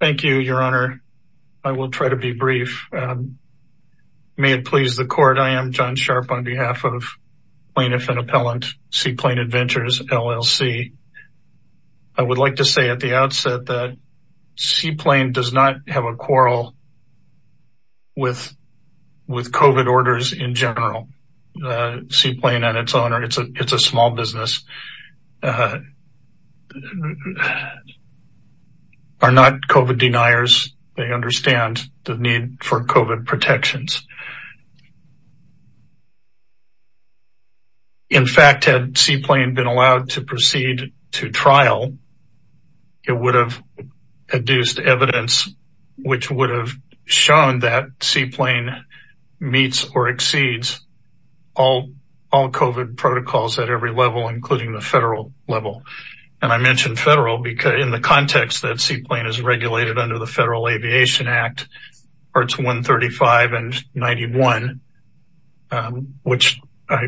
Thank you, your honor. I will try to be brief. May it please the court. I am John Sharp on behalf of Plaintiff and Appellant, Seaplane Adventures, LLC. I would like to say at the outset that Seaplane does not have a quarrel with COVID orders in general. Seaplane and its owner, it's a small business. Are not COVID deniers. They understand the need for COVID protections. In fact, had Seaplane been allowed to proceed to trial, it would have produced evidence which would have shown that Seaplane meets or exceeds all COVID protocols at every level, including the federal level. And I mentioned federal because in the context that Seaplane is regulated under the Federal Aviation Act, parts 135 and 91, which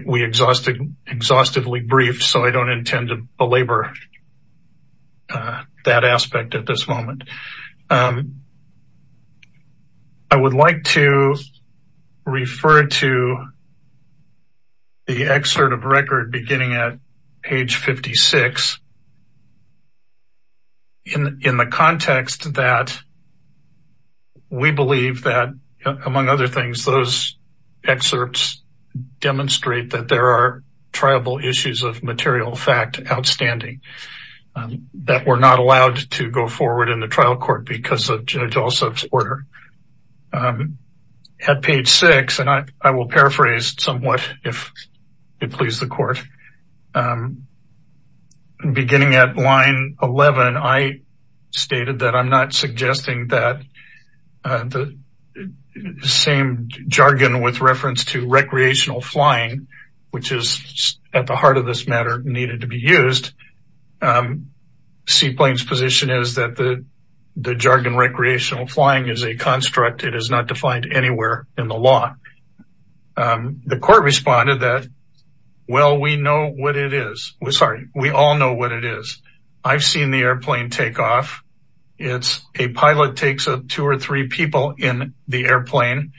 we exhaustively briefed, so I don't intend to belabor that aspect at this moment. I would like to refer to the excerpt of record beginning at page 56 in the context that we believe that, among other things, those excerpts demonstrate that there are triable issues of material fact outstanding, that we're not allowed to go forward in the trial court because of Judge Alsop's order. At page six, and I will paraphrase somewhat if it please the court. Beginning at line 11, I stated that I'm not suggesting that the same jargon with reference to recreational flying, which is at the heart of this matter, needed to be used, Seaplane's position is that the jargon recreational flying is a construct, it is not defined anywhere in the law, the court responded that, well, we know what it is, sorry, we all know what it is, I've seen the airplane take off, it's a pilot takes up two or three people in the airplane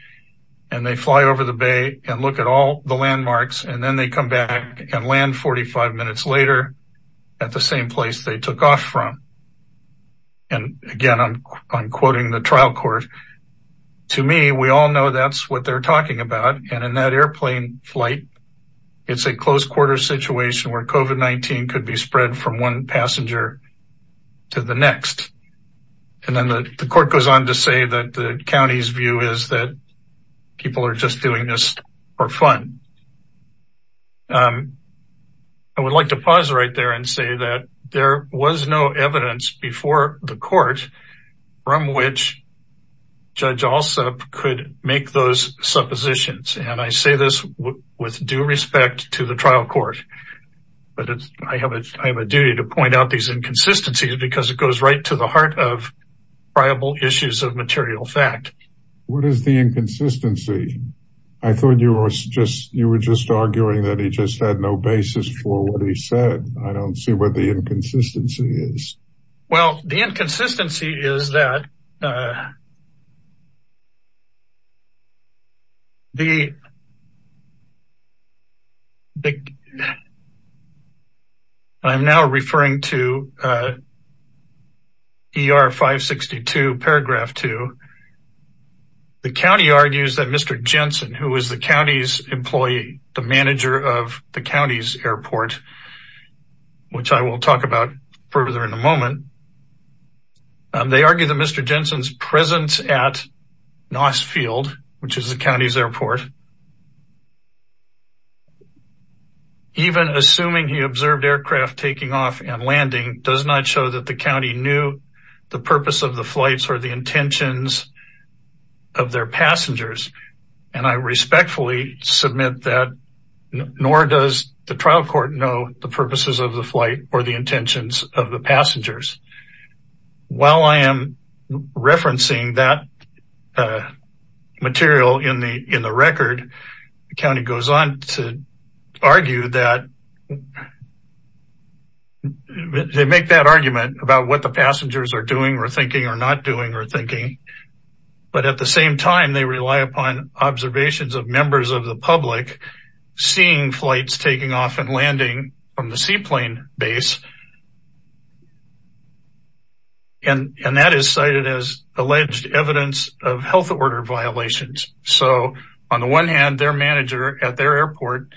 and they fly over the bay and look at all the landmarks and then they come back and land 45 minutes later at the same place they took off from. And again, I'm quoting the trial court, to me, we all know that's what they're talking about and in that airplane flight, it's a close quarter situation where COVID-19 could be spread from one passenger to the next. And then the court goes on to say that the county's view is that people are just doing this for fun. I would like to pause right there and say that there was no evidence before the court from which Judge Alsup could make those suppositions. And I say this with due respect to the trial court, but I have a duty to point out these inconsistencies because it goes right to the heart of priable issues of material fact. What is the inconsistency? I thought you were just arguing that he just had no basis for what he said. I don't see what the inconsistency is. Well, the inconsistency is that the, I'm now referring to ER 562 paragraph two. The county argues that Mr. Jensen, who is the county's employee, the manager of the county's airport, which I will talk about further in a moment, they argue that Mr. Jensen's presence at Noss Field, which is the county's airport, even assuming he observed aircraft taking off and landing does not show that the county knew the purpose of the flights or the intentions of their passengers. And I respectfully submit that nor does the trial court know the purposes of the flight or the intentions of the passengers. While I am referencing that material in the record, the county goes on to argue that they make that argument about what the passengers are doing or thinking or not doing or thinking, but at the same time, they rely upon observations of members of the public seeing flights taking off and landing from the seaplane base, and that is cited as alleged evidence of health order violations. So on the one hand, their manager at their airport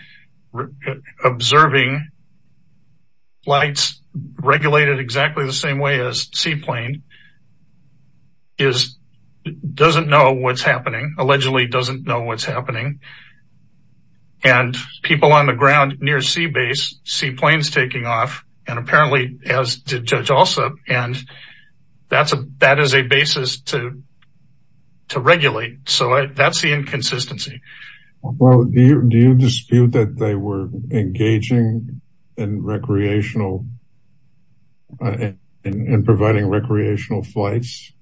observing flights regulated exactly the same way as seaplane, doesn't know what's happening, allegedly doesn't know what's happening, and people on the ground near sea base, seaplanes taking off, and apparently as did Judge Alsup, and that is a basis to regulate. So that's the inconsistency. Well, do you dispute that they were engaging in recreational, in providing recreational flights?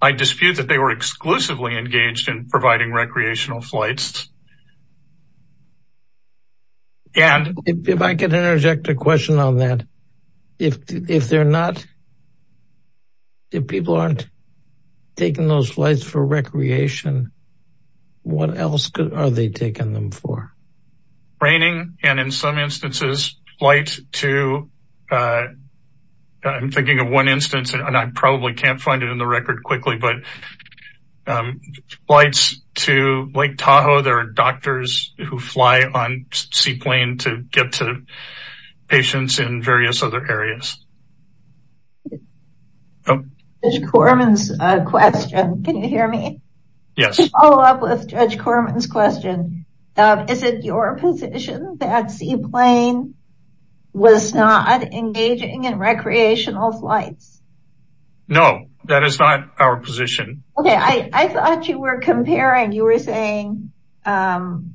I dispute that they were exclusively engaged in providing recreational flights. And if I could interject a question on that, if they're not, if people aren't taking those flights for recreation, what else are they taking them for? Raining, and in some instances, flights to, I'm thinking of one instance, and I probably can't find it in the record quickly, but flights to Lake Tahoe, there are doctors who fly on seaplane to get to patients in various other areas. Judge Corman's question, can you hear me? Yes. To follow up with Judge Corman's question, is it your position that seaplane was not engaging in recreational flights? No, that is not our position. Okay. I thought you were comparing, you were saying that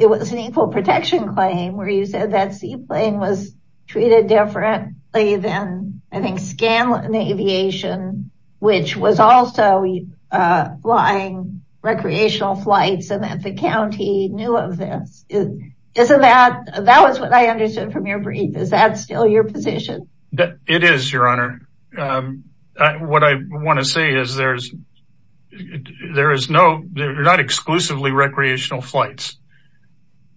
it was an equal protection claim where you said that seaplane was treated different, and that it was different than, I think, Scanlon Aviation, which was also flying recreational flights, and that the county knew of this. Isn't that, that was what I understood from your brief. Is that still your position? It is, Your Honor. What I want to say is there's, there is no, they're not exclusively recreational flights,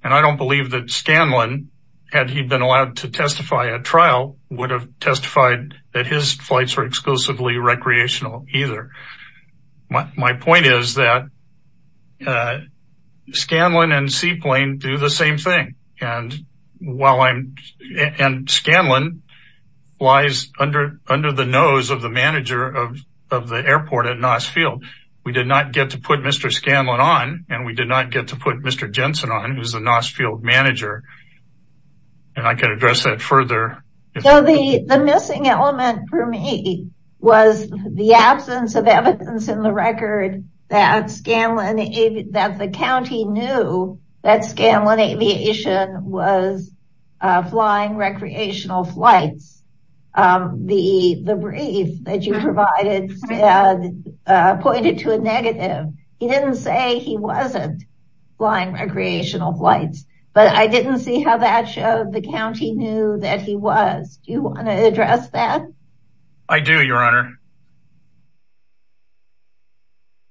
and I don't believe that Scanlon, had he been allowed to testify at trial, would have testified that his flights were exclusively recreational either, my point is that Scanlon and seaplane do the same thing, and while I'm, and Scanlon lies under the nose of the manager of the airport at Noss Field. We did not get to put Mr. Scanlon on, and we did not get to put Mr. Jensen on, who's the Noss Field manager. And I can address that further. So the missing element for me was the absence of evidence in the record that Scanlon, that the county knew that Scanlon Aviation was flying recreational flights, the brief that you provided pointed to a negative. He didn't say he wasn't flying recreational flights, but I didn't see how that showed the county knew that he was. Do you want to address that? I do, Your Honor.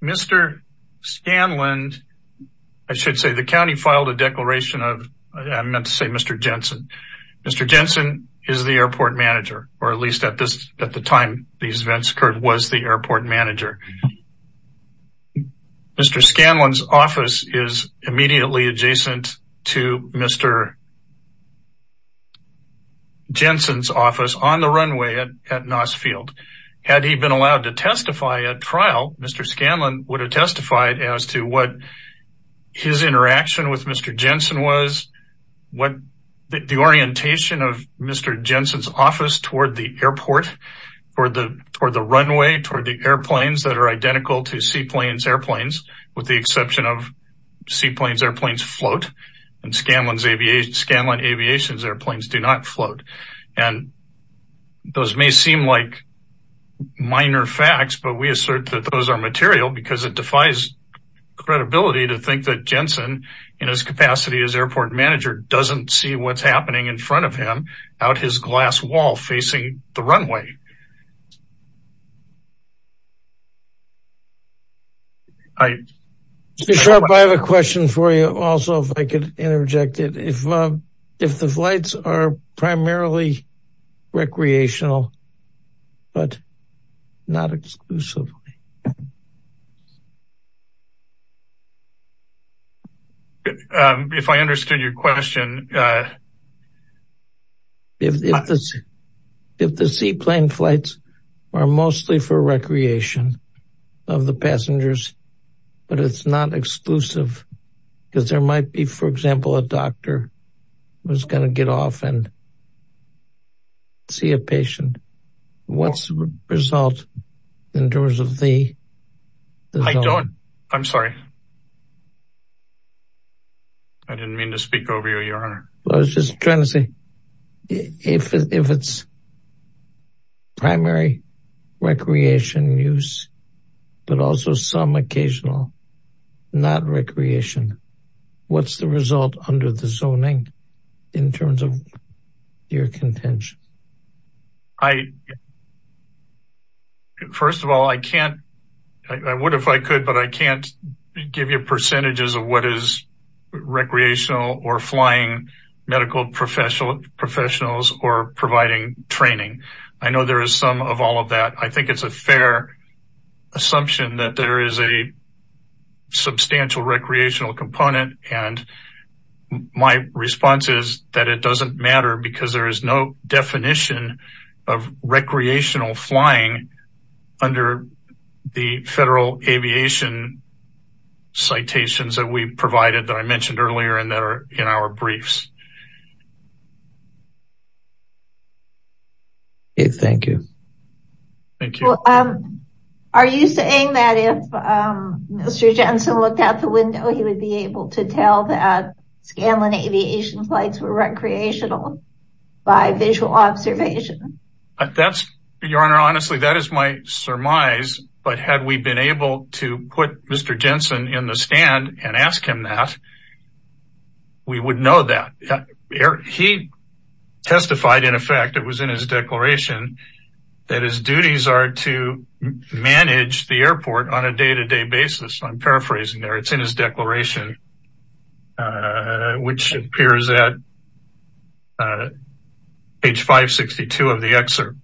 Mr. Scanlon, I should say the county filed a declaration of, I meant to say Mr. Jensen, Mr. Jensen is the airport manager, or at least at this, at the time these events occurred, was the airport manager. Mr. Scanlon's office is immediately adjacent to Mr. Jensen's office on the runway at Noss Field. Had he been allowed to testify at trial, Mr. Scanlon would have testified as to what his interaction with Mr. Jensen was, what the orientation of Mr. Jensen's office toward the airport or the, or the runway toward the airplanes that are identical to Seaplane's airplanes, with the exception of Seaplane's airplanes float and Scanlon Aviation's airplanes do not float. And those may seem like minor facts, but we assert that those are material because it defies credibility to think that Jensen in his capacity as airport manager doesn't see what's happening in front of him out his glass wall facing the runway. I have a question for you also, if I could interject it, if, if the flights are primarily recreational, but not exclusively. If I understood your question. If the, if the Seaplane flights are mostly for recreation. Of the passengers, but it's not exclusive because there might be, for example, a doctor was going to get off and see a patient. What's the result in terms of the, I don't, I'm sorry. I didn't mean to speak over you, your honor. I was just trying to say if it's primary recreation use. But also some occasional, not recreation. What's the result under the zoning in terms of your contention? I, first of all, I can't, I would, if I could, but I can't give you percentages of what is recreational or flying medical professional professionals or providing training. I know there is some of all of that. I think it's a fair assumption that there is a substantial recreational component and my response is that it doesn't matter because there is no definition of recreational flying under the federal aviation citations that we provided that I mentioned earlier in there, in our briefs. Thank you. Well, are you saying that if Mr. Jensen looked out the window, he would be able to tell that Scanlon aviation flights were recreational by visual observation? That's your honor. Honestly, that is my surmise, but had we been able to put Mr. Jensen in the stand and ask him that, we would know that he testified in effect. It was in his declaration that his duties are to manage the airport on a day-to-day basis. I'm paraphrasing there. It's in his declaration, which appears at page 562 of the excerpt.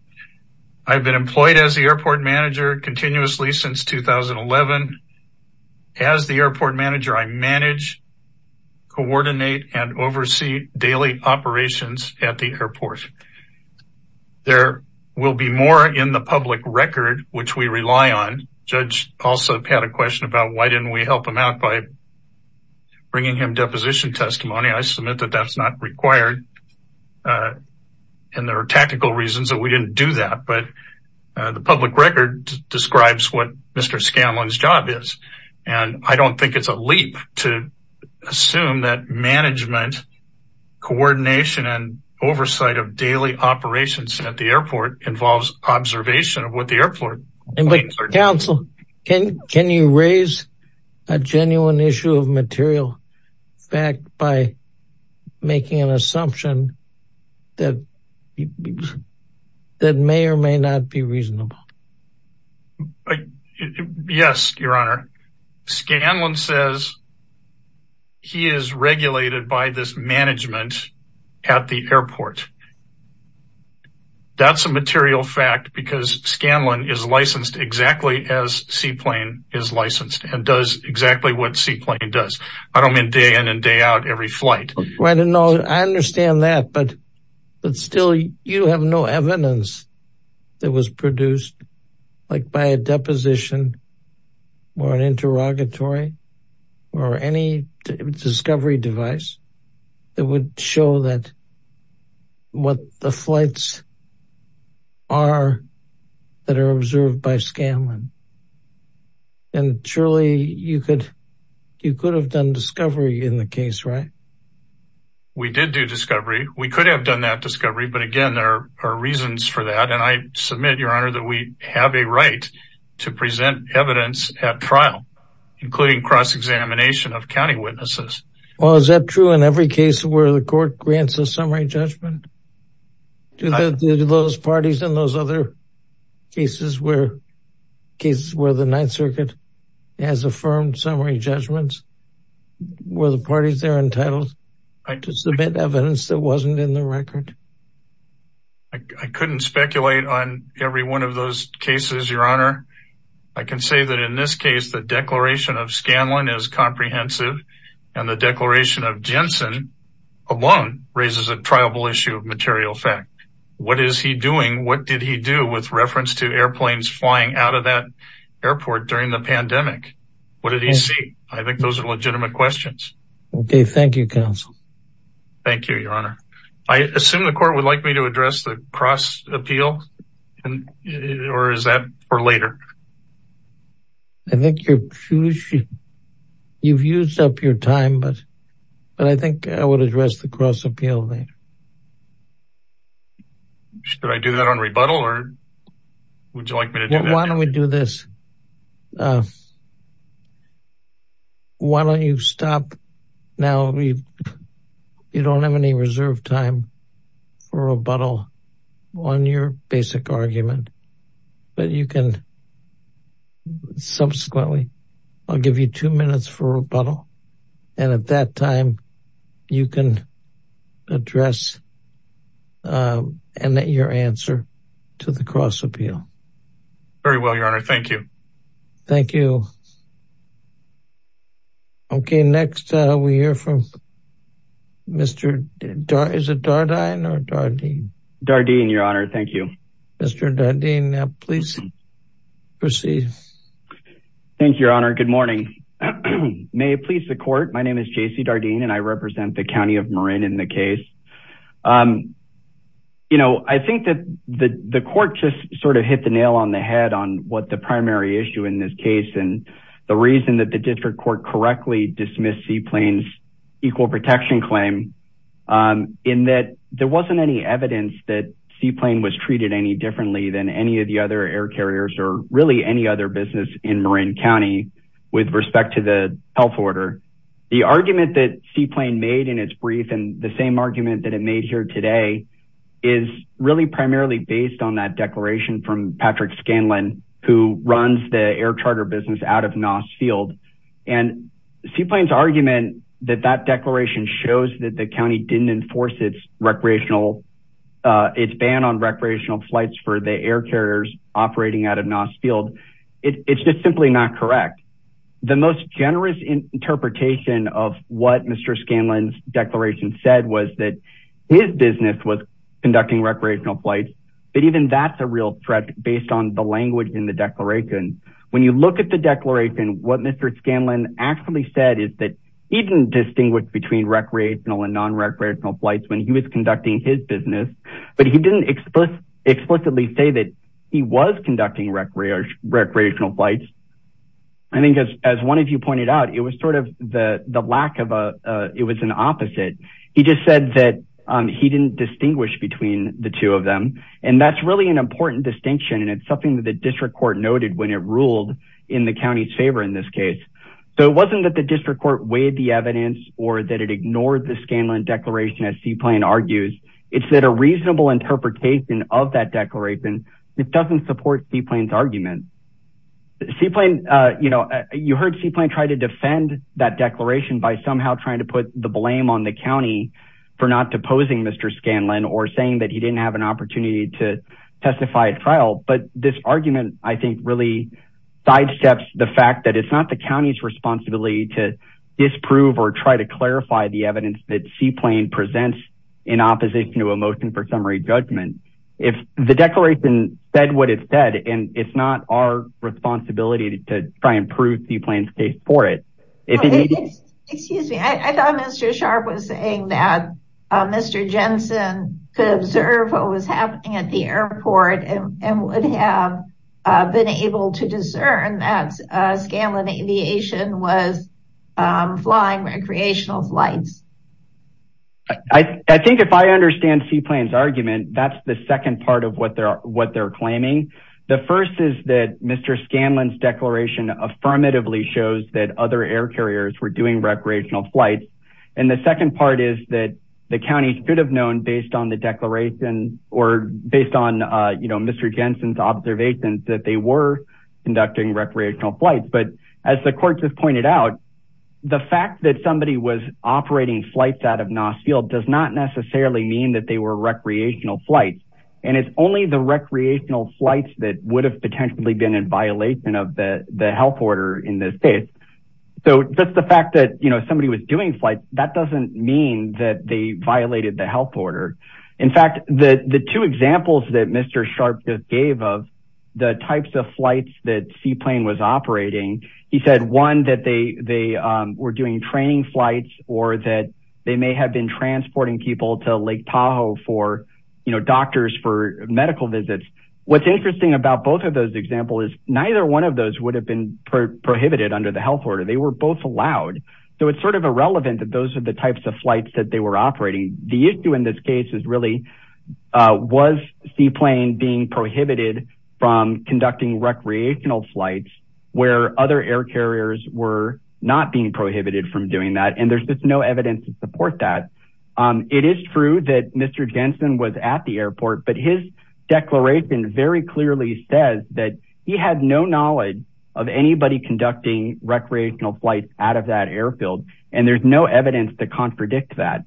I've been employed as the airport manager continuously since 2011. As the airport manager, I manage, coordinate, and oversee daily operations at the airport. There will be more in the public record, which we rely on. Judge also had a question about why didn't we help him out by bringing him deposition testimony. I submit that that's not required. And there are tactical reasons that we didn't do that, but the public record describes what Mr. Scanlon's job is. And I don't think it's a leap to assume that management, coordination, and oversight of daily operations at the airport involves observation of what the airport means. But counsel, can you raise a genuine issue of material fact by making an assumption that may or may not be reasonable? Yes, your honor. Scanlon says he is regulated by this management at the airport. That's a material fact because Scanlon is licensed exactly as Seaplane is licensed and does exactly what Seaplane does. I don't mean day in and day out every flight. I understand that, but still you have no evidence that was produced by a deposition or an interrogatory or any discovery device that would show that what the flights are that are observed by Scanlon and surely you could have done discovery in the case, right? We did do discovery. We could have done that discovery, but again, there are reasons for that. And I submit, your honor, that we have a right to present evidence at trial, including cross-examination of county witnesses. Well, is that true in every case where the court grants a summary judgment? Do those parties in those other cases where the ninth circuit has affirmed summary judgments, were the parties there entitled to submit evidence that wasn't in the record? I couldn't speculate on every one of those cases, your honor. I can say that in this case, the declaration of Scanlon is comprehensive and the declaration of Jensen alone raises a triable issue of material fact. What is he doing? What did he do with reference to airplanes flying out of that airport during the pandemic? What did he see? I think those are legitimate questions. Okay. Thank you, counsel. Thank you, your honor. I assume the court would like me to address the cross appeal or is that for later? I think you've used up your time, but I think I would address the cross appeal later. Should I do that on rebuttal or would you like me to do that? Why don't we do this? Why don't you stop now? You don't have any reserve time for rebuttal on your basic argument, but you can subsequently, I'll give you two minutes for rebuttal and at that time, you can address your answer to the cross appeal. Very well, your honor. Thank you. Thank you. Okay. Next, we hear from Mr. Is it Dardine or Dardine? Dardine, your honor. Thank you. Mr. Dardine, please proceed. Thank you, your honor. Good morning. May it please the court. My name is JC Dardine and I represent the County of Marin in the case. I think that the court just sort of hit the nail on the head on what the primary issue in this case, and the reason that the district court correctly dismissed seaplanes equal protection claim in that there wasn't any evidence that seaplane was treated any differently than any of the other air carriers or really any other business in Marin County with respect to the health order. The argument that seaplane made in its brief and the same argument that it made here today is really primarily based on that declaration from Patrick Scanlon, who runs the air charter business out of NOS field and seaplanes argument that that declaration shows that the County didn't enforce its recreational. Uh, it's ban on recreational flights for the air carriers operating out of NOS field. It's just simply not correct. The most generous interpretation of what Mr. Scanlon's declaration said was that his business was conducting recreational flights, but even that's a real threat based on the language in the declaration. When you look at the declaration, what Mr. Scanlon actually said is that he didn't distinguish between recreational and non-recreational flights when he was conducting his business, but he didn't explicitly say that he was conducting recreational flights. I think as, as one of you pointed out, it was sort of the lack of a, uh, it was an And that's really an important distinction. And it's something that the district court noted when it ruled in the County's favor in this case. So it wasn't that the district court weighed the evidence or that it ignored the Scanlon declaration as seaplane argues. It's that a reasonable interpretation of that declaration. It doesn't support seaplanes argument. The seaplane, uh, you know, you heard seaplane tried to defend that declaration by somehow trying to put the blame on the County for not deposing Mr. Scanlon or saying that he didn't have an opportunity to testify at trial. But this argument, I think really sidesteps the fact that it's not the County's responsibility to disprove or try to clarify the evidence that seaplane presents in opposition to a motion for summary judgment, if the declaration said what it said, and it's not our responsibility to try and prove seaplane's case for it. If you need it, excuse me. I thought Mr. Sharp was saying that, uh, Mr. Jensen could observe what was happening at the airport and would have, uh, been able to discern that, uh, Scanlon aviation was, um, flying recreational flights. I think if I understand seaplane's argument, that's the second part of what they're, what they're claiming. The first is that Mr. Scanlon's declaration affirmatively shows that other air carriers were doing recreational flights. And the second part is that the County should have known based on the declaration or based on, uh, you know, Mr. Jensen's observations that they were conducting recreational flights. But as the court has pointed out, the fact that somebody was operating flights out of Noss field does not necessarily mean that they were recreational flights and it's only the recreational flights that would have potentially been in violation of the health order in this case. So that's the fact that, you know, somebody was doing flights. That doesn't mean that they violated the health order. In fact, the, the two examples that Mr. Sharp just gave of the types of flights that seaplane was operating. He said one that they, they, um, were doing training flights or that they may have been transporting people to Lake Tahoe for, you know, doctors for medical What's interesting about both of those example is neither one of those would have been prohibited under the health order, they were both allowed. So it's sort of irrelevant that those are the types of flights that they were operating. The issue in this case is really, uh, was seaplane being prohibited from conducting recreational flights where other air carriers were not being prohibited from doing that. And there's just no evidence to support that. Um, it is true that Mr. Jensen was at the airport, but his declaration very clearly says that he had no knowledge of anybody conducting recreational flights out of that airfield. And there's no evidence to contradict that.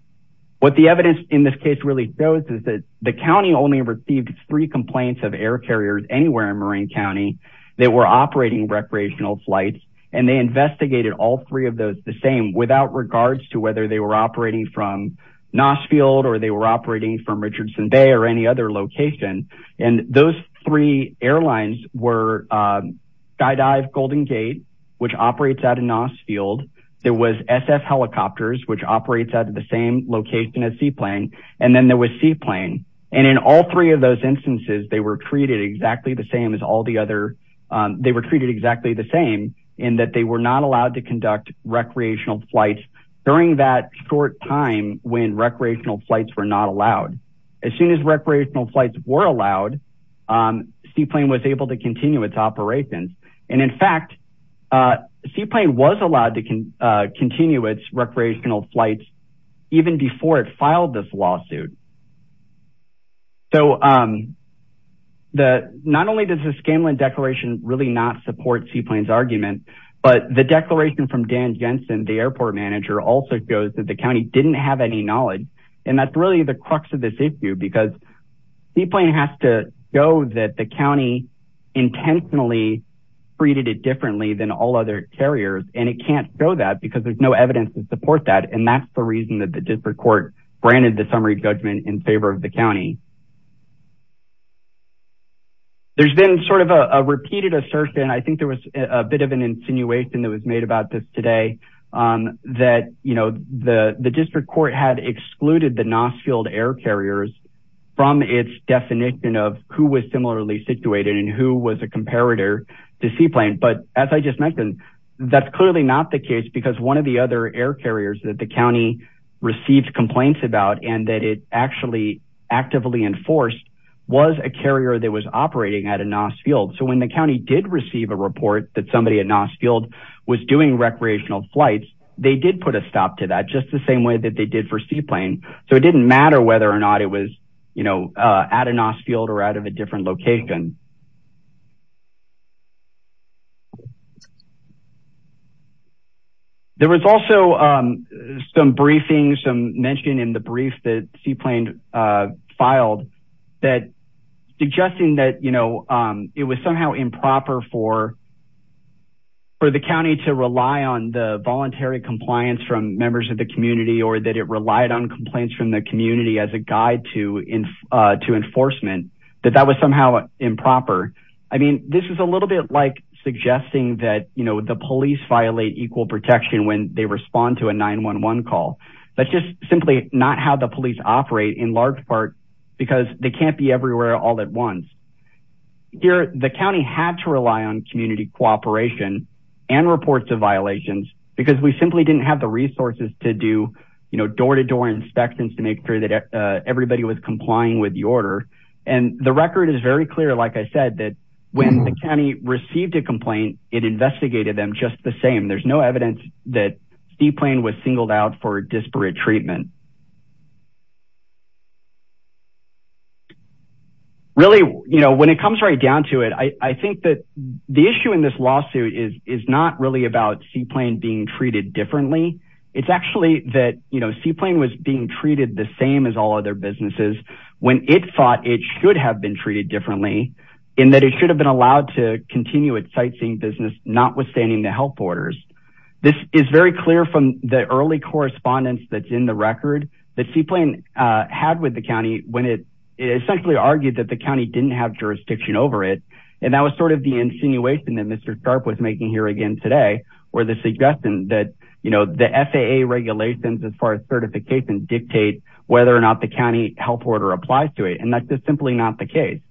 What the evidence in this case really shows is that the County only received three complaints of air carriers anywhere in Marine County that were operating recreational flights. And they investigated all three of those the same without regards to whether they were operating from Nossfield or they were operating from Richardson Bay or any other location. And those three airlines were, um, Skydive Golden Gate, which operates out of Nossfield. There was SF helicopters, which operates out of the same location at seaplane, and then there was seaplane. And in all three of those instances, they were treated exactly the same as all the other, um, they were treated exactly the same in that they were not allowed to short time when recreational flights were not allowed, as soon as recreational flights were allowed, um, seaplane was able to continue its operations. And in fact, uh, seaplane was allowed to, uh, continue its recreational flights. Even before it filed this lawsuit. So, um, the, not only does the Scanlon declaration really not support seaplanes argument, but the declaration from Dan Jensen, the airport manager also goes that the County didn't have any knowledge and that's really the crux of this issue because seaplane has to go that the County intentionally treated it differently than all other carriers. And it can't show that because there's no evidence to support that. And that's the reason that the district court granted the summary judgment in favor of the County. There's been sort of a repeated assertion. I think there was a bit of an insinuation that was made about this today. Um, that, you know, the, the district court had excluded the Nossfield air carriers from its definition of who was similarly situated and who was a comparator to seaplane. But as I just mentioned, that's clearly not the case because one of the other air carriers that the County received complaints about, and that it actually. Actively enforced was a carrier that was operating at a Nossfield. So when the County did receive a report that somebody at Nossfield was doing recreational flights, they did put a stop to that just the same way that they did for seaplane. So it didn't matter whether or not it was, you know, uh, at a Nossfield or out of a different location. There was also, um, some briefings, some mentioned in the brief that seaplane, uh, filed that suggesting that, you know, um, it was somehow improper for, for the County to rely on the voluntary compliance from members of the community or that it relied on complaints from the community as a guide to, uh, to enforcement that that was somehow improper. I mean, this is a little bit like suggesting that, you know, the police violate equal protection when they respond to a nine one one call, but just simply not how the police operate in large part, because they can't be everywhere all at once. Here, the County had to rely on community cooperation and reports of violations because we simply didn't have the resources to do, you know, door-to-door inspections to make sure that everybody was complying with the order and the record is very clear. Like I said, that when the County received a complaint, it investigated them just the same. There's no evidence that seaplane was singled out for disparate treatment. Really, you know, when it comes right down to it, I think that the issue in this lawsuit is, is not really about seaplane being treated differently. It's actually that, you know, seaplane was being treated the same as all other businesses when it thought it should have been treated differently in that it should have been allowed to continue its sightseeing business, not withstanding the health orders. This is very clear from the early correspondence that's in the record. The seaplane had with the County when it essentially argued that the County didn't have jurisdiction over it. And that was sort of the insinuation that Mr. Sharp was making here again today, where the suggestion that, you know, the FAA regulations as far as certification dictate whether or not the County health order applies to it. And that's just simply not the case.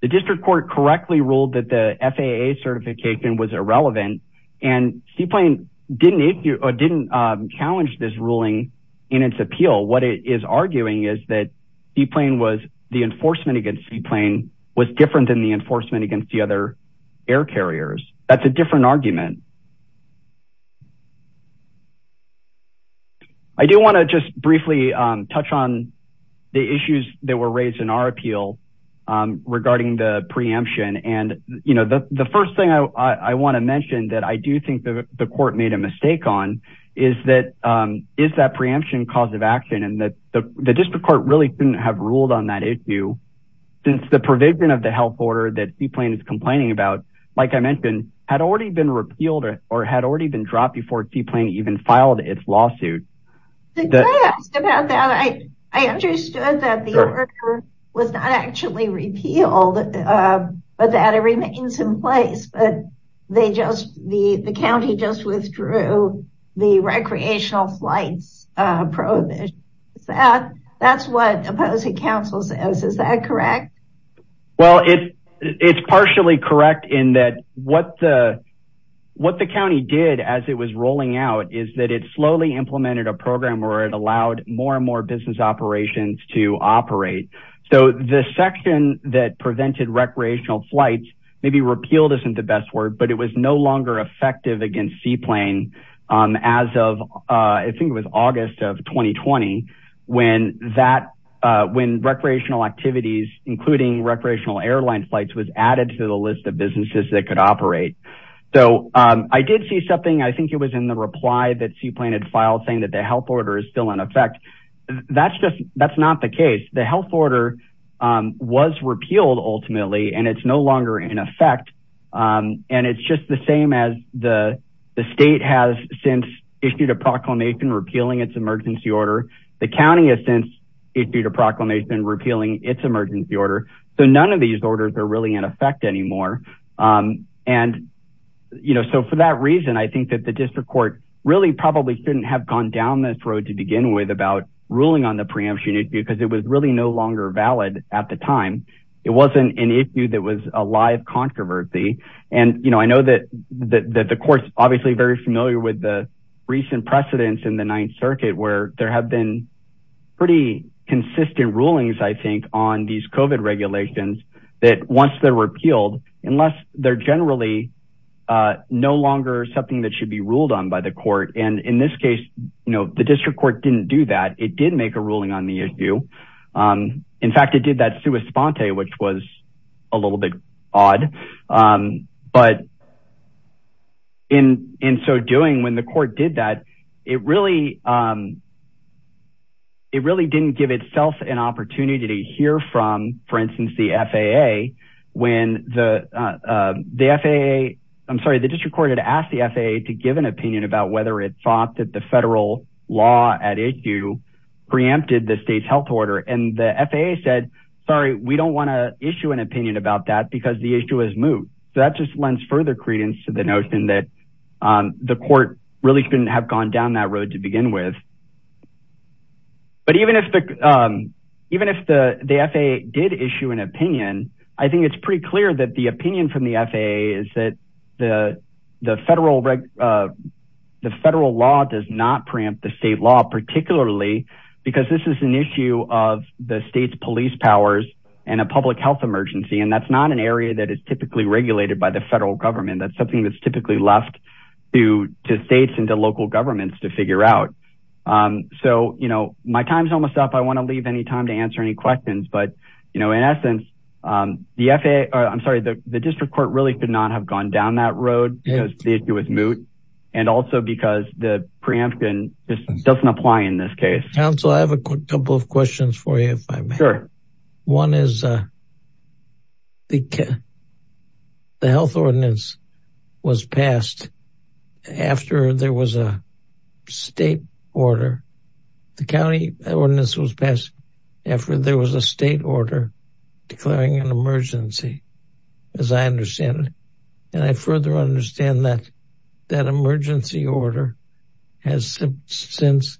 The district court correctly ruled that the FAA certification was irrelevant and seaplane didn't issue or didn't challenge this ruling in its appeal. What it is arguing is that seaplane was the enforcement against seaplane was different than the enforcement against the other air carriers. That's a different argument. I do want to just briefly touch on the issues that were raised in our appeal regarding the preemption. And, you know, the first thing I want to mention that I do think that the court made a mistake on is that is that preemption cause of action and that the district court really didn't have ruled on that issue since the provision of the health order that seaplane is complaining about, like I mentioned, had already been repealed or had already been dropped before seaplane even filed its lawsuit. The guy asked about that. I understood that the order was not actually repealed, but that it remains in place, but they just, the County just withdrew the recreational flights prohibition. That's what opposing counsel says. Is that correct? Well, it's partially correct in that what the, what the County did as it was a program where it allowed more and more business operations to operate. So the section that prevented recreational flights, maybe repealed isn't the best word, but it was no longer effective against seaplane as of I think it was August of 2020 when that when recreational activities, including recreational airline flights was added to the list of businesses that could operate. So I did see something, I think it was in the reply that seaplane had filed saying that the health order is still in effect. That's just, that's not the case. The health order was repealed ultimately, and it's no longer in effect. And it's just the same as the state has since issued a proclamation repealing its emergency order. The County has since issued a proclamation repealing its emergency order. So none of these orders are really in effect anymore. And, you know, so for that reason, I think that the district court really probably shouldn't have gone down this road to begin with about ruling on the preemption issue, because it was really no longer valid at the time. It wasn't an issue that was a live controversy. And, you know, I know that the court's obviously very familiar with the recent precedents in the ninth circuit where there have been pretty consistent rulings. I think on these COVID regulations that once they're repealed, unless they're generally no longer something that should be ruled on by the court. And in this case, you know, the district court didn't do that. It did make a ruling on the issue. In fact, it did that sui sponte, which was a little bit odd. But in so doing when the court did that, it really, it really didn't give itself an opportunity to hear from, for instance, the FAA when the FAA, I'm sorry, the thought that the federal law at issue preempted the state's health order. And the FAA said, sorry, we don't want to issue an opinion about that because the issue has moved. So that just lends further credence to the notion that the court really shouldn't have gone down that road to begin with. But even if the even if the FAA did issue an opinion, I think it's pretty clear that the opinion from the FAA is that the, the federal, the federal law does not preempt the state law, particularly because this is an issue of the state's police powers and a public health emergency. And that's not an area that is typically regulated by the federal government. That's something that's typically left due to states and the local governments to figure out. So, you know, my time's almost up. I want to leave any time to answer any questions, but, you know, in essence, the FAA, I'm sorry, the district court really could not have gone down that road because the issue was moot. And also because the preemption just doesn't apply in this case. Council, I have a couple of questions for you. One is the health ordinance was passed after there was a state order. The county ordinance was passed after there was a state order declaring an emergency, as I understand it. And I further understand that that emergency order has since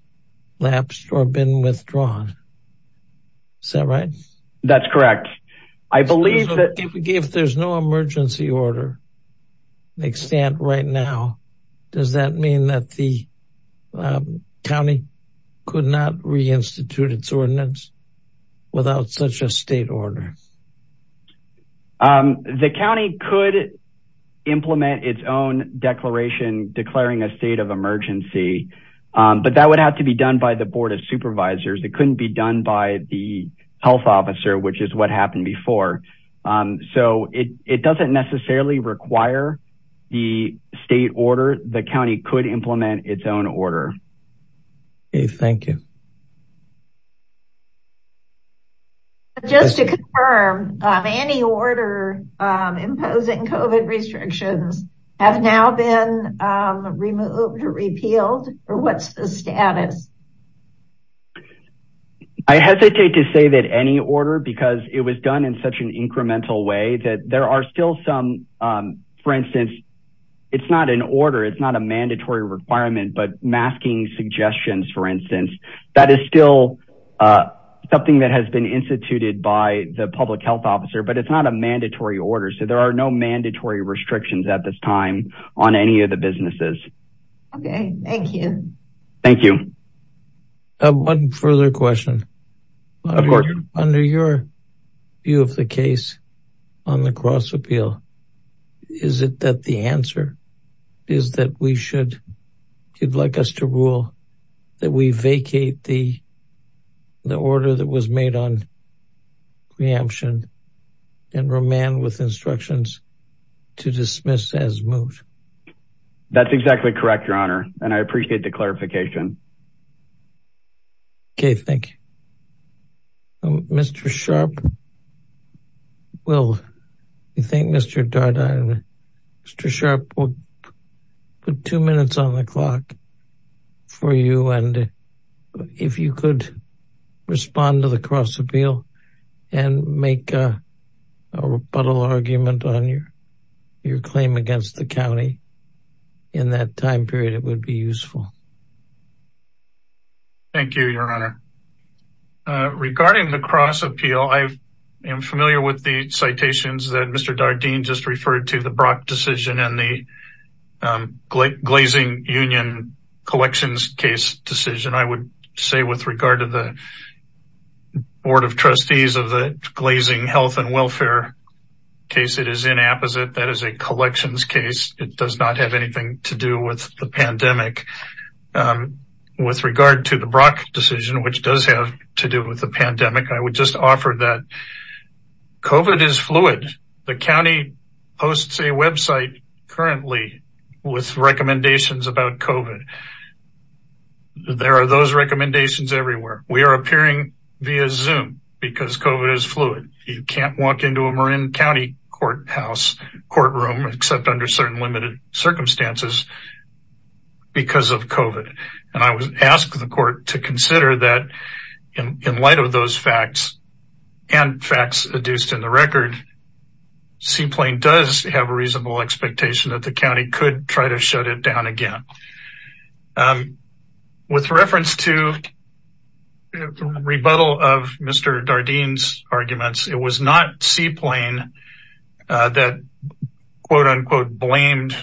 lapsed or been withdrawn. Is that right? That's correct. I believe that if there's no emergency order, extent right now, does that mean that the county could not re-institute its ordinance without such a state order? The county could implement its own declaration, declaring a state of emergency, but that would have to be done by the board of supervisors. It couldn't be done by the health officer, which is what happened before. So it doesn't necessarily require the state order. The county could implement its own order. Okay. Thank you. Just to confirm, any order imposing COVID restrictions have now been removed or repealed or what's the status? I hesitate to say that any order, because it was done in such an incremental way that there are still some for instance, it's not an order. It's not a mandatory requirement, but masking suggestions, for instance, that is still something that has been instituted by the public health officer, but it's not a mandatory order. So there are no mandatory restrictions at this time on any of the businesses. Okay. Thank you. Thank you. One further question. Under your view of the case on the cross appeal, is it that the answer is that we should, you'd like us to rule that we vacate the order that was made on preemption and remand with instructions to dismiss as moot? That's exactly correct, your honor. And I appreciate the clarification. Okay. Thank you. Mr. Sharp, well, I think Mr. Dardenne, Mr. Sharp, we'll put two minutes on the clock for you. And if you could respond to the cross appeal and make a rebuttal argument on your claim against the county in that time period, it would be useful. Thank you, your honor. Regarding the cross appeal, I am familiar with the citations that Mr. Dardenne just referred to the Brock decision and the glazing union collections case decision. I would say with regard to the board of trustees of the glazing health and welfare case, it is inapposite. That is a collections case. It does not have anything to do with the pandemic. With regard to the Brock decision, which does have to do with the pandemic. I would just offer that COVID is fluid. The county hosts a website currently with recommendations about COVID. There are those recommendations everywhere. We are appearing via Zoom because COVID is fluid. You can't walk into a Marin County courthouse courtroom, except under certain limited circumstances because of COVID and I would ask the court to consider that in light of those facts and facts adduced in the record, Sea Plain does have a reasonable expectation that the county could try to shut it down again with reference to rebuttal of Mr. Dardenne's arguments. It was not Sea Plain that quote unquote blamed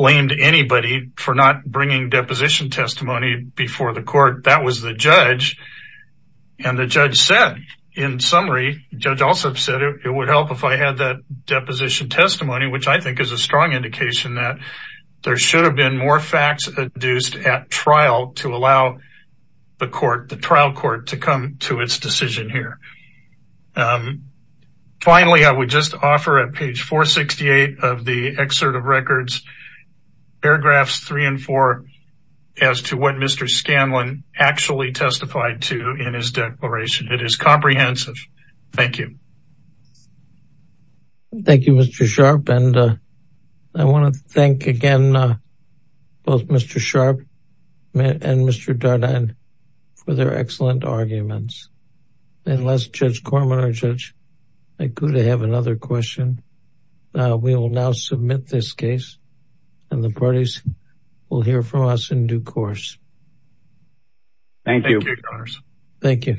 anybody for not bringing deposition testimony before the court. That was the judge and the judge said in summary, judge also said it would help if I had that deposition testimony, which I think is a strong indication that there to come to its decision here. Finally, I would just offer at page 468 of the excerpt of records, paragraphs three and four as to what Mr. Scanlon actually testified to in his declaration. It is comprehensive. Thank you. Thank you, Mr. Sharp. And I want to thank again both Mr. Sharp and Mr. Dardenne for their excellent arguments. And last, Judge Corman or Judge, I could have another question. We will now submit this case and the parties will hear from us in due course. Thank you. Thank you.